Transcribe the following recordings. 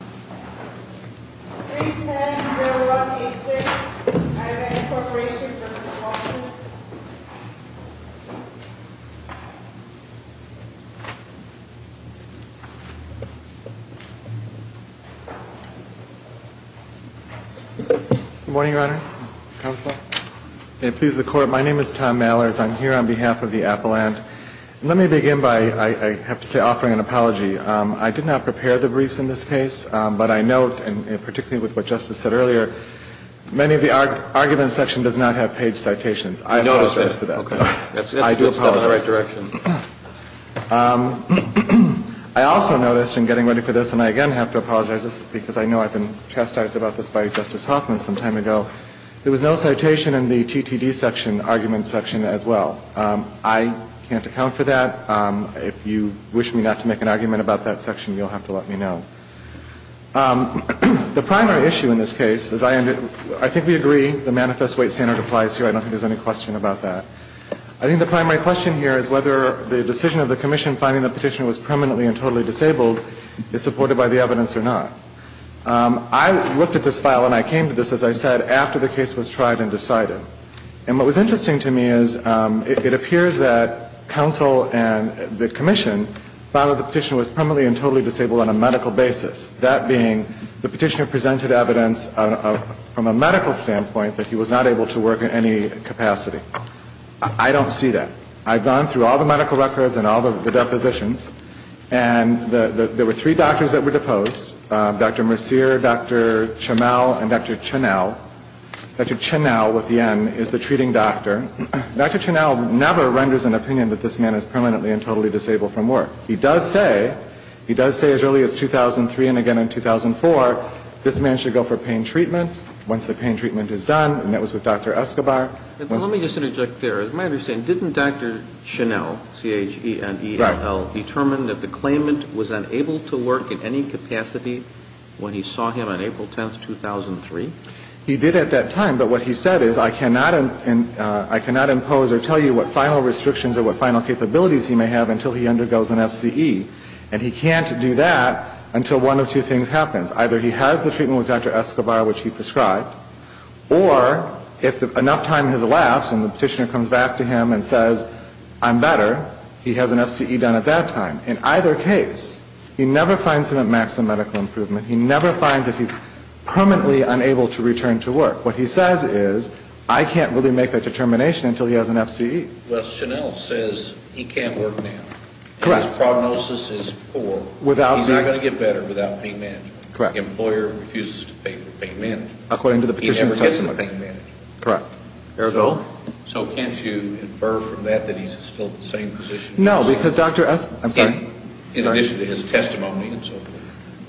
Good morning your honors, counsel. May it please the court, my name is Tom Mallers. I'm here on behalf of the appellant. Let me begin by, I have to say, offering an apology. I did not prepare the briefs in this case, but I note, and particularly with what Justice said earlier, many of the argument section does not have page citations. I apologize for that. I noticed that. Okay. I do apologize. That's the right direction. I also noticed, in getting ready for this, and I again have to apologize because I know I've been chastised about this by Justice Hoffman some time ago, there was no citation in the TTD section, argument section, as well. I can't account for that. If you wish me not to make an argument about that section, you'll have to let me know. The primary issue in this case is, I think we agree the manifest weight standard applies here, I don't think there's any question about that. I think the primary question here is whether the decision of the commission finding the petitioner was permanently and totally disabled is supported by the evidence or not. I looked at this file and I came to this, as I said, after the case was tried and decided. And what was interesting to me is it appears that counsel and the commission found that the petitioner was permanently and totally disabled on a medical basis, that being the petitioner presented evidence from a medical standpoint that he was not able to work in any capacity. I don't see that. I've gone through all the medical records and all the depositions, and there were three doctors that were deposed, Dr. Mercier, Dr. Chamel, and Dr. Chenow. Dr. Chenow, with the M, is the treating doctor. Dr. Chenow never renders an opinion that this man is permanently and totally disabled from work. He does say, he does say as early as 2003 and again in 2004, this man should go for pain treatment. Once the pain treatment is done, and that was with Dr. Escobar. Let me just interject there. As my understanding, didn't Dr. Chenow, C-H-E-N-E-L, determine that the claimant was unable to work in any capacity when he saw him on April 10th, 2003? He did at that time. But what he said is, I cannot impose or tell you what final restrictions or what final capabilities he may have until he undergoes an FCE. And he can't do that until one of two things happens. Either he has the treatment with Dr. Escobar, which he prescribed, or if enough time has elapsed and the petitioner comes back to him and says, I'm better, he has an FCE done at that time. In either case, he never finds him at maximum medical improvement. He never finds that he's permanently unable to return to work. What he says is, I can't really make that determination until he has an FCE. Well, Chenow says he can't work now. Correct. And his prognosis is poor. Without the He's not going to get better without pain management. The employer refuses to pay for pain management. According to the petitioner's testimony. He never gets the pain management. Correct. So can't you infer from that that he's still in the same position? No, because Dr. Escobar I'm sorry. In addition to his testimony and so forth.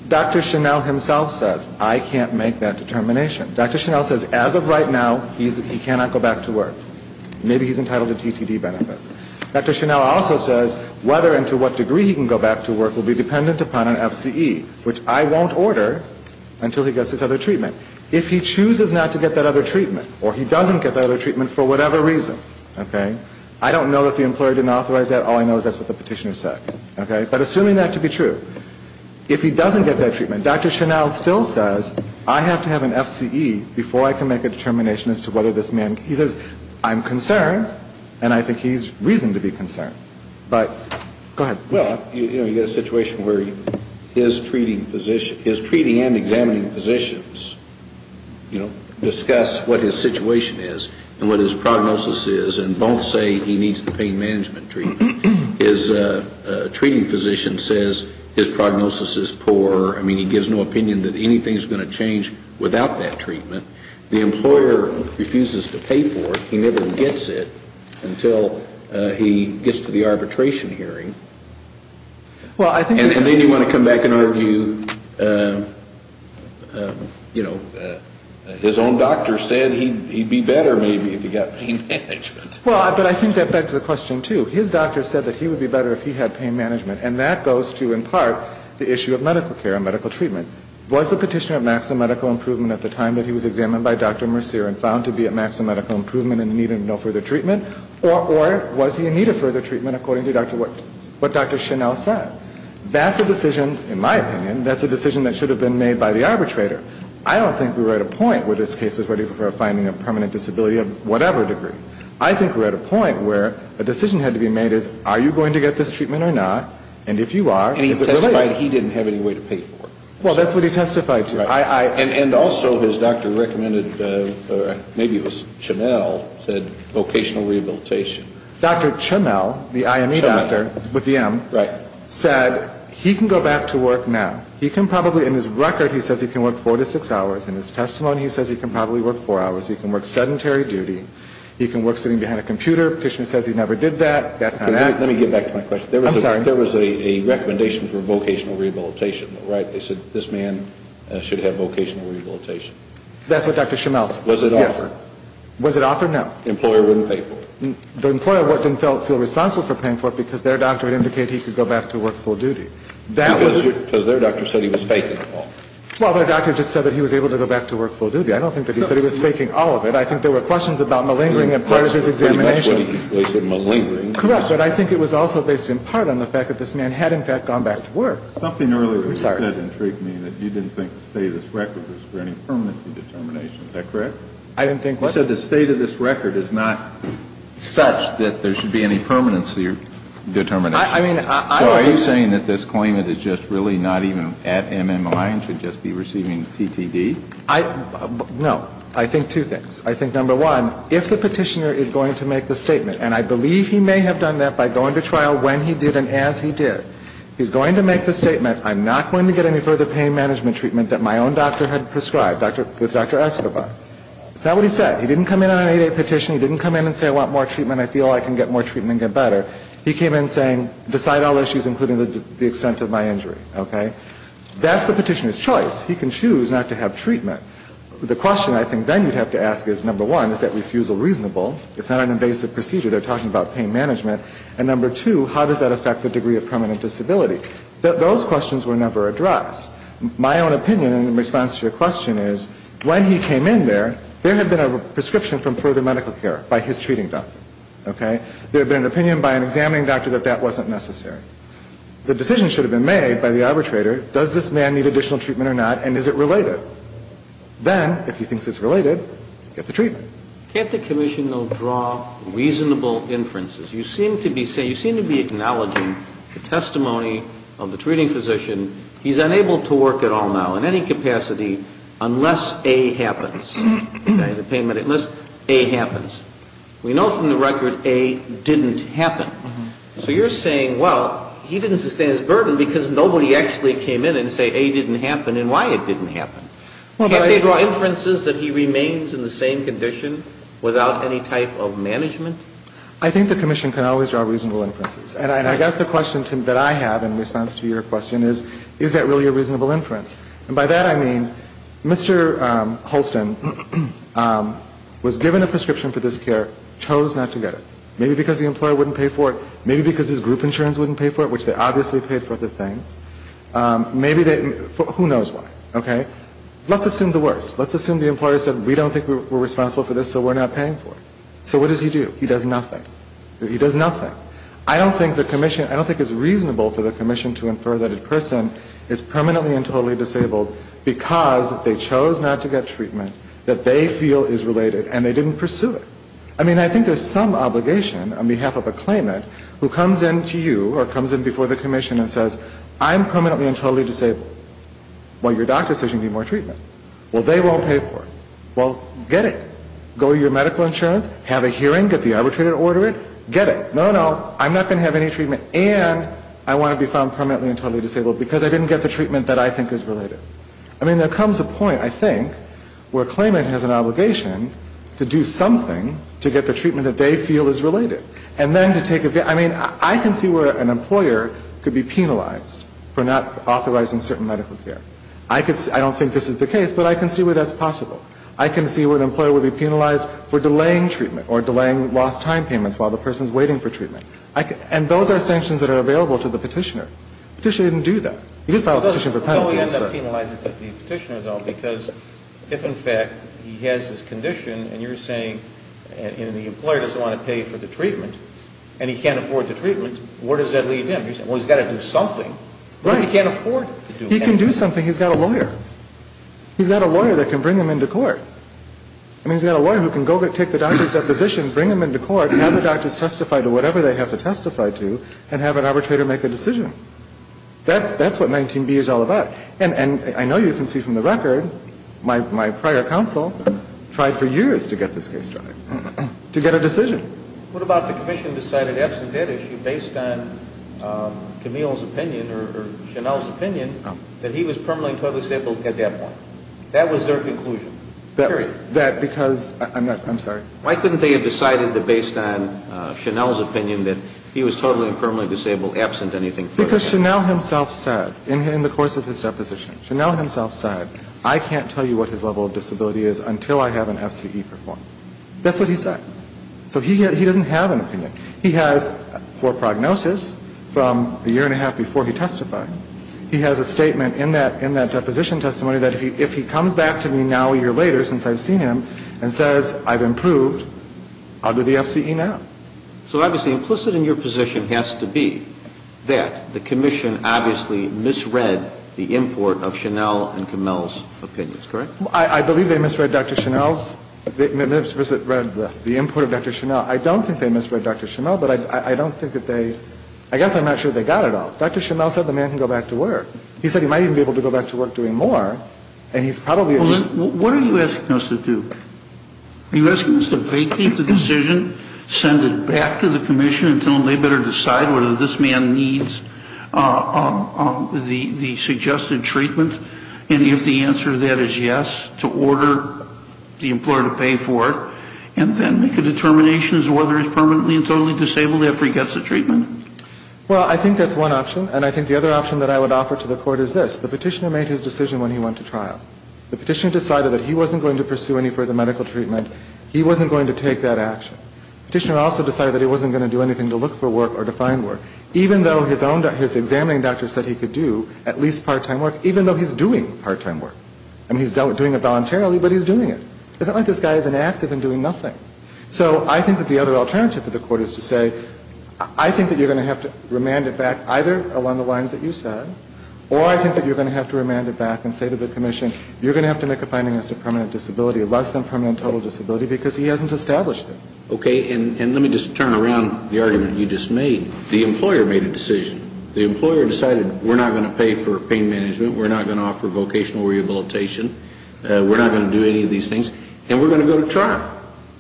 Dr. Chenow himself says, I can't make that determination. Dr. Chenow says as of right now, he cannot go back to work. Maybe he's entitled to TTD benefits. Dr. Chenow also says whether and to what degree he can go back to work will be dependent upon an FCE, which I won't order until he gets his other treatment. If he chooses not to get that other treatment for whatever reason. Okay. I don't know if the employer didn't authorize that. All I know is that's what the petitioner said. Okay. But assuming that to be true, if he doesn't get that treatment, Dr. Chenow still says, I have to have an FCE before I can make a determination as to whether this man, he says, I'm concerned. And I think he's reasoned to be concerned. But go ahead. Well, you know, you get a situation where he is treating physician, is treating and examining physicians, you know, discuss what his situation is and what his prognosis is and both say he needs the pain management treatment. His treating physician says his prognosis is poor. I mean, he gives no opinion that anything is going to change without that treatment. The employer refuses to pay for it. He never gets it until he gets to the arbitration hearing. And then you want to come back and argue, you know, his own doctor said he'd be better maybe if he got pain management. Well, but I think that begs the question, too. His doctor said that he would be better if he had pain management. And that goes to, in part, the issue of medical care and medical treatment. Was the petitioner at maximum medical improvement at the time that he was examined by Dr. Mercier and found to be at maximum medical improvement and needed no further treatment according to what Dr. Chenelle said? That's a decision, in my opinion, that's a decision that should have been made by the arbitrator. I don't think we were at a point where this case was ready for a finding of permanent disability of whatever degree. I think we're at a point where a decision had to be made as are you going to get this treatment or not? And if you are, is it really? And he testified he didn't have any way to pay for it. Well, that's what he testified to. And also his doctor recommended, maybe it was Chenelle, said vocational rehabilitation. Dr. Chenelle, the IME doctor with the M, said he can go back to work now. He can probably, in his record, he says he can work four to six hours. In his testimony, he says he can probably work four hours. He can work sedentary duty. He can work sitting behind a computer. The petitioner says he never did that. That's not happening. Let me get back to my question. I'm sorry. There was a recommendation for vocational rehabilitation, right? They said this man should have vocational rehabilitation. That's what Dr. Chenelle said. Was it offered? Was it offered? No. Employer wouldn't pay for it. The employer wouldn't feel responsible for paying for it because their doctor would indicate he could go back to work full duty. Because their doctor said he was faking it all. Well, their doctor just said that he was able to go back to work full duty. I don't think that he said he was faking all of it. I think there were questions about malingering and part of his examination. Correct. But I think it was also based in part on the fact that this man had, in fact, gone back to work. Something earlier you said intrigued me, that you didn't think the state of this record was granting permanency determination. Is that correct? I didn't think what? I said the state of this record is not such that there should be any permanency determination. I mean, I So are you saying that this claimant is just really not even at MMI and should just be receiving PTD? I, no. I think two things. I think, number one, if the petitioner is going to make the statement, and I believe he may have done that by going to trial when he did and as he did, he's going to make the statement, I'm not going to get any further pain management treatment that my own doctor had prescribed, with Dr. Esserbar. Is that what he said? He didn't come in on an 8-8 petition. He didn't come in and say I want more treatment. I feel I can get more treatment and get better. He came in saying, decide all issues, including the extent of my injury. Okay? That's the petitioner's choice. He can choose not to have treatment. The question I think then you'd have to ask is, number one, is that refusal reasonable? It's not an invasive procedure. They're talking about pain management. And number two, how does that affect the degree of permanent disability? Those questions were never addressed. My own opinion in response to your question is, when he came in there, there had been a prescription from further medical care by his treating doctor. Okay? There had been an opinion by an examining doctor that that wasn't necessary. The decision should have been made by the arbitrator, does this man need additional treatment or not, and is it related? Then, if he thinks it's related, get the treatment. Can't the commission, though, draw reasonable inferences? You seem to be saying physician, he's unable to work at all now, in any capacity, unless A happens. Okay? The pain management, unless A happens. We know from the record A didn't happen. So you're saying, well, he didn't sustain his burden because nobody actually came in and said A didn't happen and why it didn't happen. Can't they draw inferences that he remains in the same condition without any type of management? I think the commission can always draw reasonable inferences. And I guess the question I have in response to your question is, is that really a reasonable inference? And by that, I mean, Mr. Holston was given a prescription for this care, chose not to get it. Maybe because the employer wouldn't pay for it. Maybe because his group insurance wouldn't pay for it, which they obviously paid for the things. Maybe they, who knows why. Okay? Let's assume the worst. Let's assume the employer said, we don't think we're responsible for this, so we're not paying for it. So what does he do? He does nothing. He does nothing. I don't think the employer is responsible for the commission to infer that a person is permanently and totally disabled because they chose not to get treatment that they feel is related and they didn't pursue it. I mean, I think there's some obligation on behalf of a claimant who comes in to you or comes in before the commission and says, I'm permanently and totally disabled. Well, your doctor says you need more treatment. Well, they won't pay for it. Well, get it. Go to your medical insurance, have a hearing, get the arbitrator to order it, get it. No, no, I'm not going to have any treatment. And I want to be found permanently and totally disabled because I didn't get the treatment that I think is related. I mean, there comes a point, I think, where a claimant has an obligation to do something to get the treatment that they feel is related. And then to take a, I mean, I can see where an employer could be penalized for not authorizing certain medical care. I could, I don't think this is the case, but I can see where that's possible. I can see where an employer would be penalized for delaying treatment or delaying lost time payments while the person is waiting for treatment. And those are sanctions that are available to the petitioner. Petitioner didn't do that. He did file a petition for penalty. So he ends up penalizing the petitioner, though, because if, in fact, he has this condition and you're saying, and the employer doesn't want to pay for the treatment and he can't afford the treatment, where does that leave him? Well, he's got to do something. Right. But he can't afford to do anything. He can do something. He's got a lawyer. He's got a lawyer that can bring him into court. I mean, he's got a lawyer who can go take the doctor's deposition, bring him into court, have the doctors testify to whatever they have to testify to, and have an arbitrator make a decision. That's what 19B is all about. And I know you can see from the record, my prior counsel tried for years to get this case tried, to get a decision. What about the commission decided absent that issue based on Camille's opinion or Chanel's opinion that he was permanently in total disability at that point? That was their conclusion. Period. That because, I'm not, I'm sorry. Why couldn't they have decided that based on Chanel's opinion that he was totally and permanently disabled absent anything further? Because Chanel himself said, in the course of his deposition, Chanel himself said, I can't tell you what his level of disability is until I have an FCE performed. That's what he said. So he doesn't have an opinion. He has, for prognosis, from a year and a half before he testified, he has a statement in that deposition testimony that if he comes back to me now a year later, since I've seen him, and he says I've improved, I'll do the FCE now. So obviously implicit in your position has to be that the commission obviously misread the import of Chanel and Camille's opinions, correct? I believe they misread Dr. Chanel's, misread the import of Dr. Chanel. I don't think they misread Dr. Chanel, but I don't think that they, I guess I'm not sure they got it all. Dr. Chanel said the man can go back to work. He said he might even be able to go back to work doing more. And he's probably at least What are you asking us to do? Are you asking us to vacate the decision, send it back to the commission until they better decide whether this man needs the suggested treatment, and if the answer to that is yes, to order the employer to pay for it, and then make a determination as to whether he's permanently and totally disabled after he gets the treatment? Well, I think that's one option. And I think the other option that I would offer to the Court is this. The Petitioner made his decision when he went to trial. The Petitioner decided that he wasn't going to pursue any further medical treatment. He wasn't going to take that action. Petitioner also decided that he wasn't going to do anything to look for work or to find work, even though his own, his examining doctor said he could do at least part-time work, even though he's doing part-time work. I mean, he's doing it voluntarily, but he's doing it. It's not like this guy is inactive and doing nothing. So I think that the other alternative for the Court is to say, I think that you're going to have to remand it back either along the lines that you said, or I think that you're going to have to remand it back and say to the Commission, you're going to have to make a finding as to permanent disability, less than permanent total disability, because he hasn't established it. Okay. And let me just turn around the argument you just made. The employer made a decision. The employer decided, we're not going to pay for pain management, we're not going to offer vocational rehabilitation, we're not going to do any of these things, and we're going to go to trial.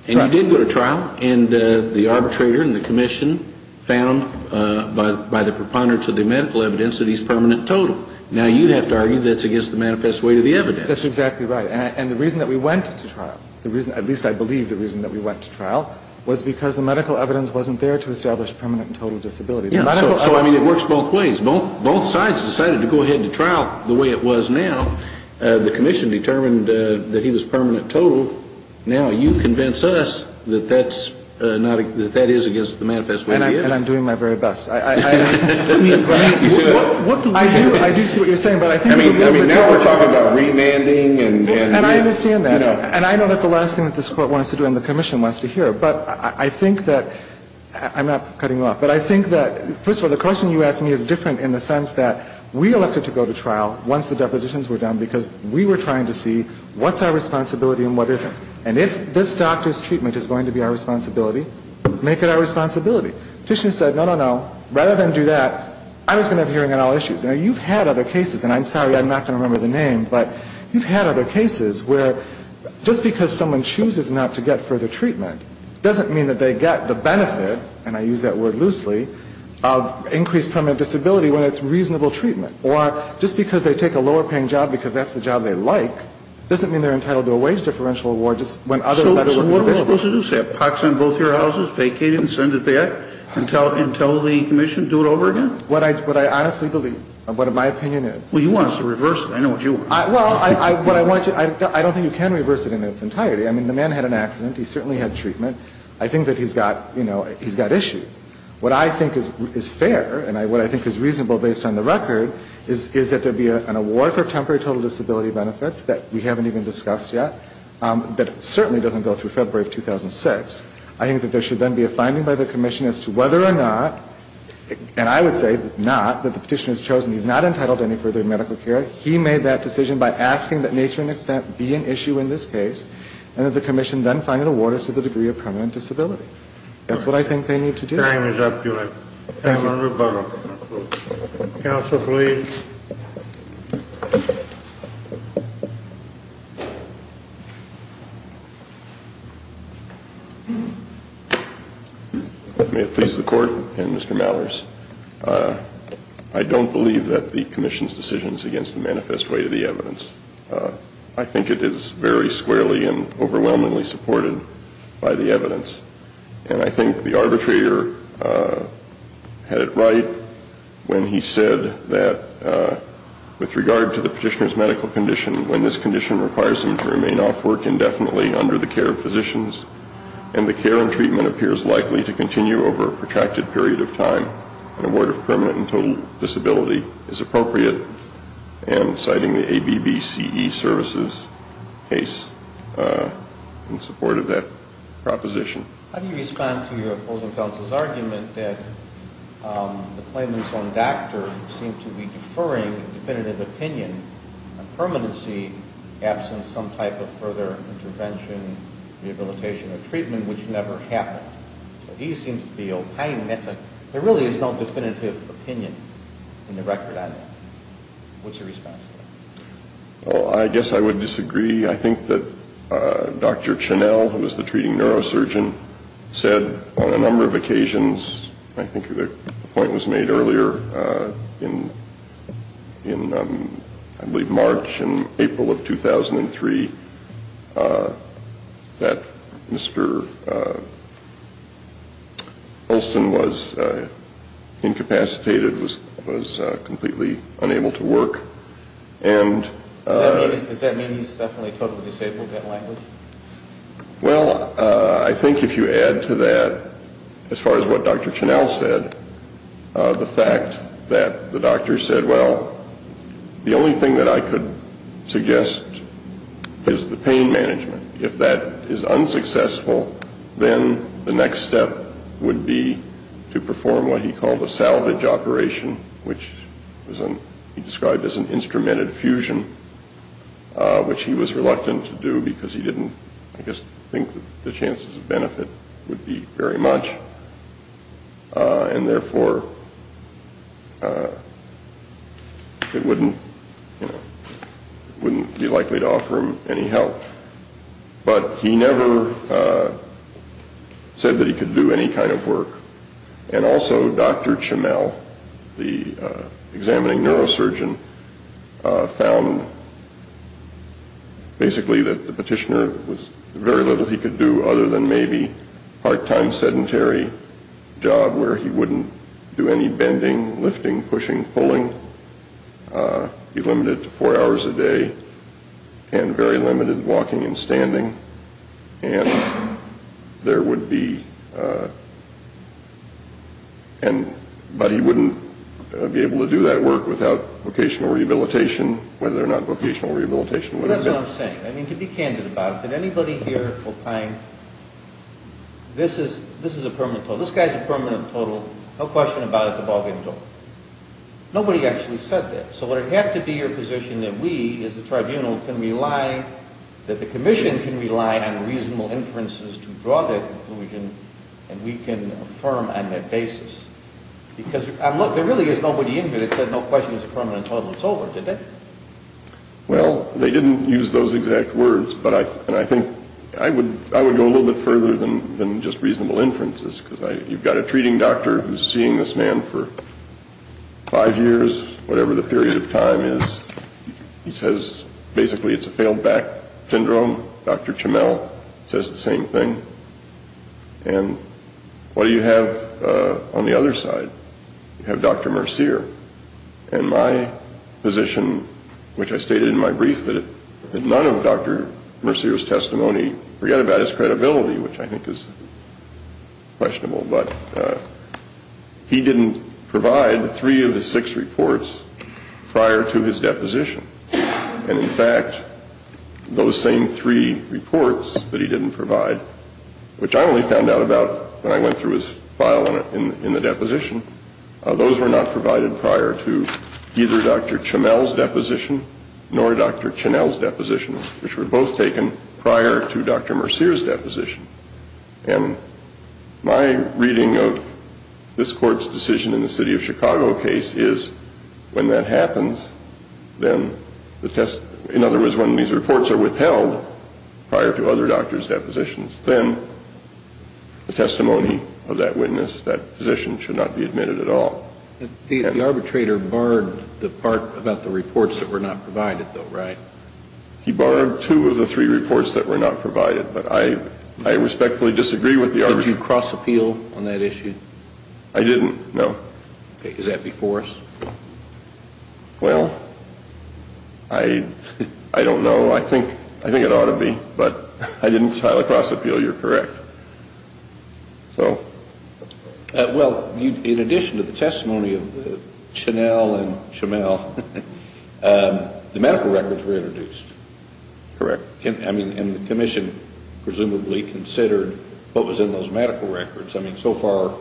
And you did go to trial, and the arbitrator and the Commission found by the preponderance of the medical evidence that he's permanent total. Now, you have to argue that's against the manifest way to the evidence. That's exactly right. And the reason that we went to trial, the reason, at least I believe the reason that we went to trial, was because the medical evidence wasn't there to establish permanent and total disability. So I mean, it works both ways. Both sides decided to go ahead and trial the way it was now. The Commission determined that he was permanent total. Now, you convince us that that's not, that that is against the manifest way to the evidence. And I'm doing my very best. I do see what you're saying, but I think it's a little bit different. I mean, now we're talking about remanding and, you know. And I understand that. And I know that's the last thing that this Court wants to do and the Commission wants to hear. But I think that, I'm not cutting you off, but I think that, first of all, the question you asked me is different in the sense that we elected to go to trial once the depositions were done because we were trying to see what's our responsibility and what isn't. And if this doctor's treatment is going to be our responsibility, make it our responsibility. The petitioner said, no, no, no, rather than do that, I'm just going to have a hearing on all issues. Now, you've had other cases, and I'm sorry I'm not going to remember the name, but you've had other cases where just because someone chooses not to get further treatment doesn't mean that they get the benefit, and I use that word loosely, of increased permanent disability when it's reasonable treatment. Or just because they take a lower-paying job because that's the job they like doesn't mean they're entitled to a wage differential award just when other work is available. What am I supposed to do, say, have pox on both your houses, vacate it, and send it back, and tell the commission to do it over again? What I honestly believe, what my opinion is. Well, you want us to reverse it. I know what you want. Well, what I want you to, I don't think you can reverse it in its entirety. I mean, the man had an accident. He certainly had treatment. I think that he's got, you know, he's got issues. What I think is fair, and what I think is reasonable based on the record, is that there be an award for temporary total disability benefits that we haven't even discussed yet, that certainly doesn't go through February of 2006. I think that there should then be a finding by the commission as to whether or not, and I would say not, that the petitioner's chosen, he's not entitled to any further medical care. He made that decision by asking that nature and extent be an issue in this case, and that the commission then find an award as to the degree of permanent disability. That's what I think they need to do. Time is up, Julie. Time on rebuttal. Counsel, please. May it please the Court, and Mr. Mallers, I don't believe that the commission's decision is against the manifest way to the evidence. I think it is very squarely and overwhelmingly supported by the evidence, and I think the arbitrator had it right when he said that with regard to the petitioner's medical condition, when this condition requires him to remain off work indefinitely under the care of physicians, and the care and treatment appears likely to continue over a protracted period of time, an award of permanent and total disability is appropriate, and citing the ABBCE services case in support of that proposition. How do you respond to your opposing counsel's argument that the claimants on doctor seem to be deferring definitive opinion on permanency absent some type of further intervention, rehabilitation, or treatment, which never happened? He seems to be opining that there really is no definitive opinion in the record on that. What's your response? Well, I guess I would disagree. I think that Dr. Chenelle, who is the treating neurosurgeon, said on a number of occasions, I think the point was made earlier in, I believe, March and April of 2003, that Mr. Olson was incapacitated, was completely unable to work, and Does that mean he's definitely totally disabled, that language? Well, I think if you add to that, as far as what Dr. Chenelle said, the fact that the doctor said, well, the only thing that I could suggest is the pain management. If that is unsuccessful, then the next step would be to perform what he called a salvage operation, which he described as an instrumented fusion, which he was reluctant to do because he didn't, I guess, think the chances of benefit would be very much, and therefore it wouldn't be likely to offer him any help. But he never said that he could do any kind of work. And also Dr. Chenelle, the examining neurosurgeon, found basically that the petitioner was very little he could do other than maybe a part-time sedentary job where he wouldn't do any bending, lifting, pushing, pulling. He was limited to four hours a day and very limited walking and standing. And there would be, but he wouldn't be able to do that work without vocational rehabilitation, whether or not vocational rehabilitation would have been. That's what I'm saying. I mean, to be candid about it, did anybody here find, this is a permanent total, this guy's a permanent total, no question about it, the ball game's over. Nobody actually said that. So would it have to be your position that we, as the tribunal, can rely, that the commission can rely on reasonable inferences to draw that conclusion and we can affirm on that basis? Because there really is nobody in here that said no question, it's a permanent total, it's over, did they? Well, they didn't use those exact words, and I think I would go a little bit further than just reasonable inferences, because you've got a treating doctor who's seeing this man for five years, whatever the period of time is. He says basically it's a failed back syndrome. Dr. Chamel says the same thing. And what do you have on the other side? You have Dr. Mercier. And my position, which I stated in my brief, that none of Dr. Mercier's testimony forget about his credibility, which I think is questionable, but he didn't provide three of the six reports prior to his deposition. And, in fact, those same three reports that he didn't provide, which I only found out about when I went through his file in the deposition, those were not provided prior to either Dr. Chamel's deposition nor Dr. Chamel's deposition, which were both taken prior to Dr. Mercier's deposition. And my reading of this Court's decision in the City of Chicago case is when that happens, then the test – in other words, when these reports are withheld prior to other doctors' depositions, then the testimony of that witness, that physician, should not be admitted at all. The arbitrator barred the part about the reports that were not provided, though, right? He barred two of the three reports that were not provided, but I respectfully disagree with the arbitrator. Did you cross-appeal on that issue? I didn't, no. Okay. Is that before us? Well, I don't know. I think it ought to be, but I didn't try to cross-appeal. You're correct. So? Well, in addition to the testimony of the Chanel and Chamel, the medical records were introduced. Correct. I mean, and the Commission presumably considered what was in those medical records. I mean, so far,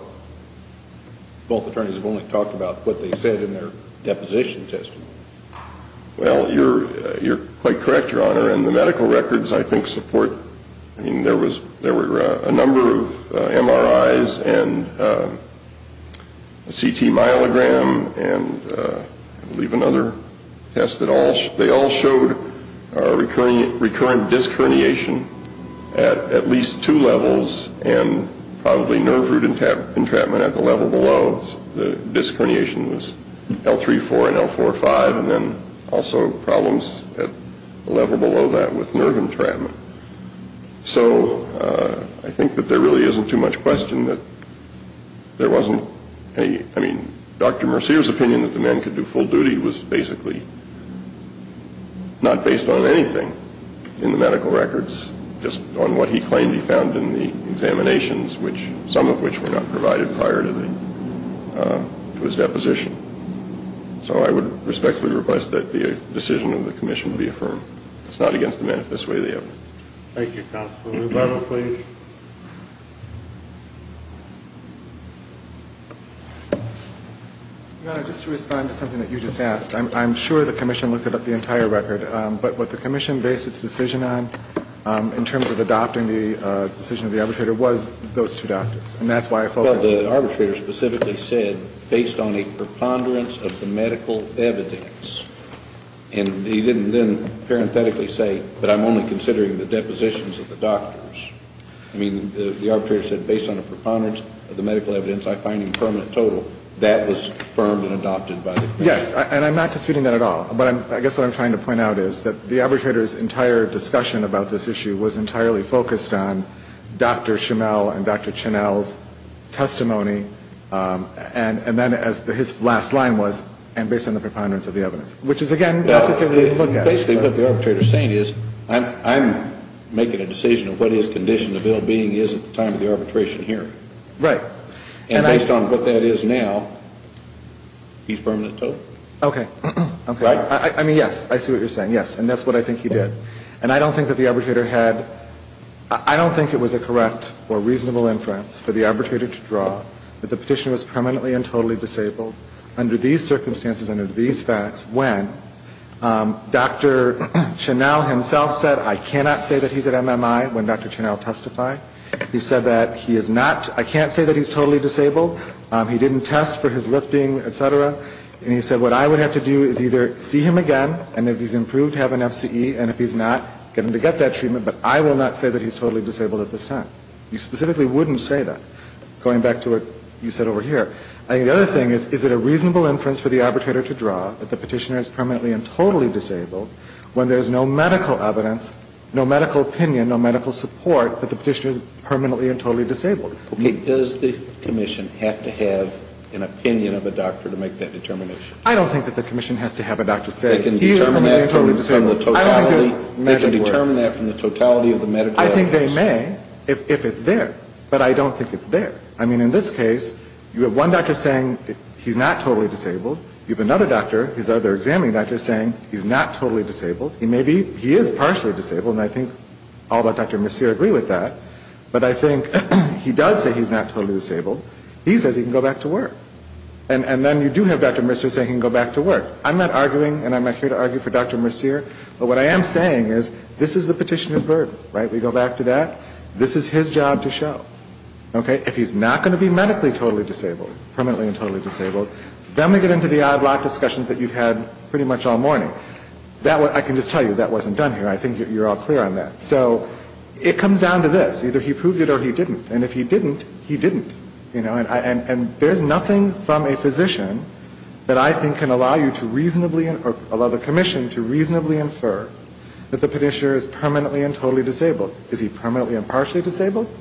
both attorneys have only talked about what they said in their deposition testimony. Well, you're quite correct, Your Honor, and the medical records, I think, support – I mean, there were a number of MRIs and a CT myelogram and, I believe, another test. They all showed recurrent disc herniation at at least two levels and probably nerve root entrapment at the level below. The disc herniation was L3-4 and L4-5 and then also problems at the level below that with nerve entrapment. So I think that there really isn't too much question that there wasn't any – I mean, Dr. Mercier's opinion that the men could do full duty was basically not based on anything in the medical records, just on what he claimed he found in the examinations, some of which were not provided prior to his deposition. So I would respectfully request that the decision of the Commission be affirmed. It's not against the manifest way of the evidence. Thank you, Counselor. Rebuttal, please. Your Honor, just to respond to something that you just asked, I'm sure the Commission looked at the entire record. But what the Commission based its decision on in terms of adopting the decision of the arbitrator was those two doctors. And that's why I focused on them. Well, the arbitrator specifically said, based on a preponderance of the medical evidence. And he didn't then parenthetically say, but I'm only considering the depositions of the doctors. I mean, the arbitrator said, based on a preponderance of the medical evidence, I find in permanent total. That was affirmed and adopted by the Commission. Yes. And I'm not disputing that at all. But I guess what I'm trying to point out is that the arbitrator's entire discussion about this issue was entirely focused on Dr. Schimel and Dr. Chinnell's testimony, and then as his last line was, and based on the preponderance of the evidence. Which is, again, not to say we didn't look at it. Basically, what the arbitrator is saying is, I'm making a decision of what his condition of ill-being is at the time of the arbitration hearing. Right. And based on what that is now, he's permanent total. Okay. Right? I mean, yes. I see what you're saying, yes. And that's what I think he did. And I don't think that the arbitrator had, I don't think it was a correct or reasonable inference for the arbitrator to draw that the petitioner was permanently and totally disabled under these circumstances, under these facts, when Dr. Chinnell himself said, I cannot say that he's at MMI when Dr. Chinnell testified. He said that he is not, I can't say that he's totally disabled. He didn't test for his lifting, et cetera. And he said, what I would have to do is either see him again, and if he's improved, have an FCE. And if he's not, get him to get that treatment. But I will not say that he's totally disabled at this time. You specifically wouldn't say that, going back to what you said over here. I think the other thing is, is it a reasonable inference for the arbitrator to draw that the petitioner is permanently and totally disabled when there's no medical evidence, no medical opinion, no medical support that the petitioner is permanently and totally disabled? Does the commission have to have an opinion of a doctor to make that determination? I don't think that the commission has to have a doctor say, he is permanently and totally disabled. They can determine that from the totality of the medical evidence. I think they may, if it's there. But I don't think it's there. I mean, in this case, you have one doctor saying he's not totally disabled. You have another doctor, his other examining doctor, saying he's not totally disabled. He may be, he is partially disabled, and I think all but Dr. Mercier agree with that. But I think he does say he's not totally disabled. He says he can go back to work. And then you do have Dr. Mercier saying he can go back to work. I'm not arguing, and I'm not here to argue for Dr. Mercier, but what I am saying is, this is the petitioner's burden. Right? We go back to that. This is his job to show. Okay? If he's not going to be medically totally disabled, permanently and totally disabled, then we get into the odd lot discussions that you've had pretty much all morning. I can just tell you that wasn't done here. I think you're all clear on that. So it comes down to this. Either he proved it or he didn't. And if he didn't, he didn't. You know? And there's nothing from a physician that I think can allow you to reasonably or allow the commission to reasonably infer that the petitioner is permanently and totally disabled. Is he permanently and partially disabled?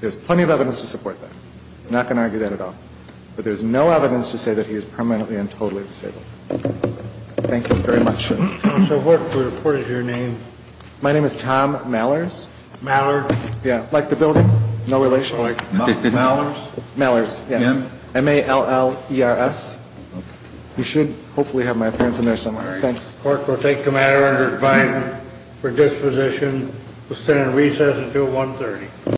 There's plenty of evidence to support that. I'm not going to argue that at all. But there's no evidence to say that he is permanently and totally disabled. Thank you very much. Counsel, what is your name? My name is Tom Mallers. Mallers? Yeah. Like the building. No relation. Mallers? Mallers, yeah. You should hopefully have my appearance in there somewhere. Thanks. The court will take the matter under divine predisposition. We'll stand in recess until 1.30.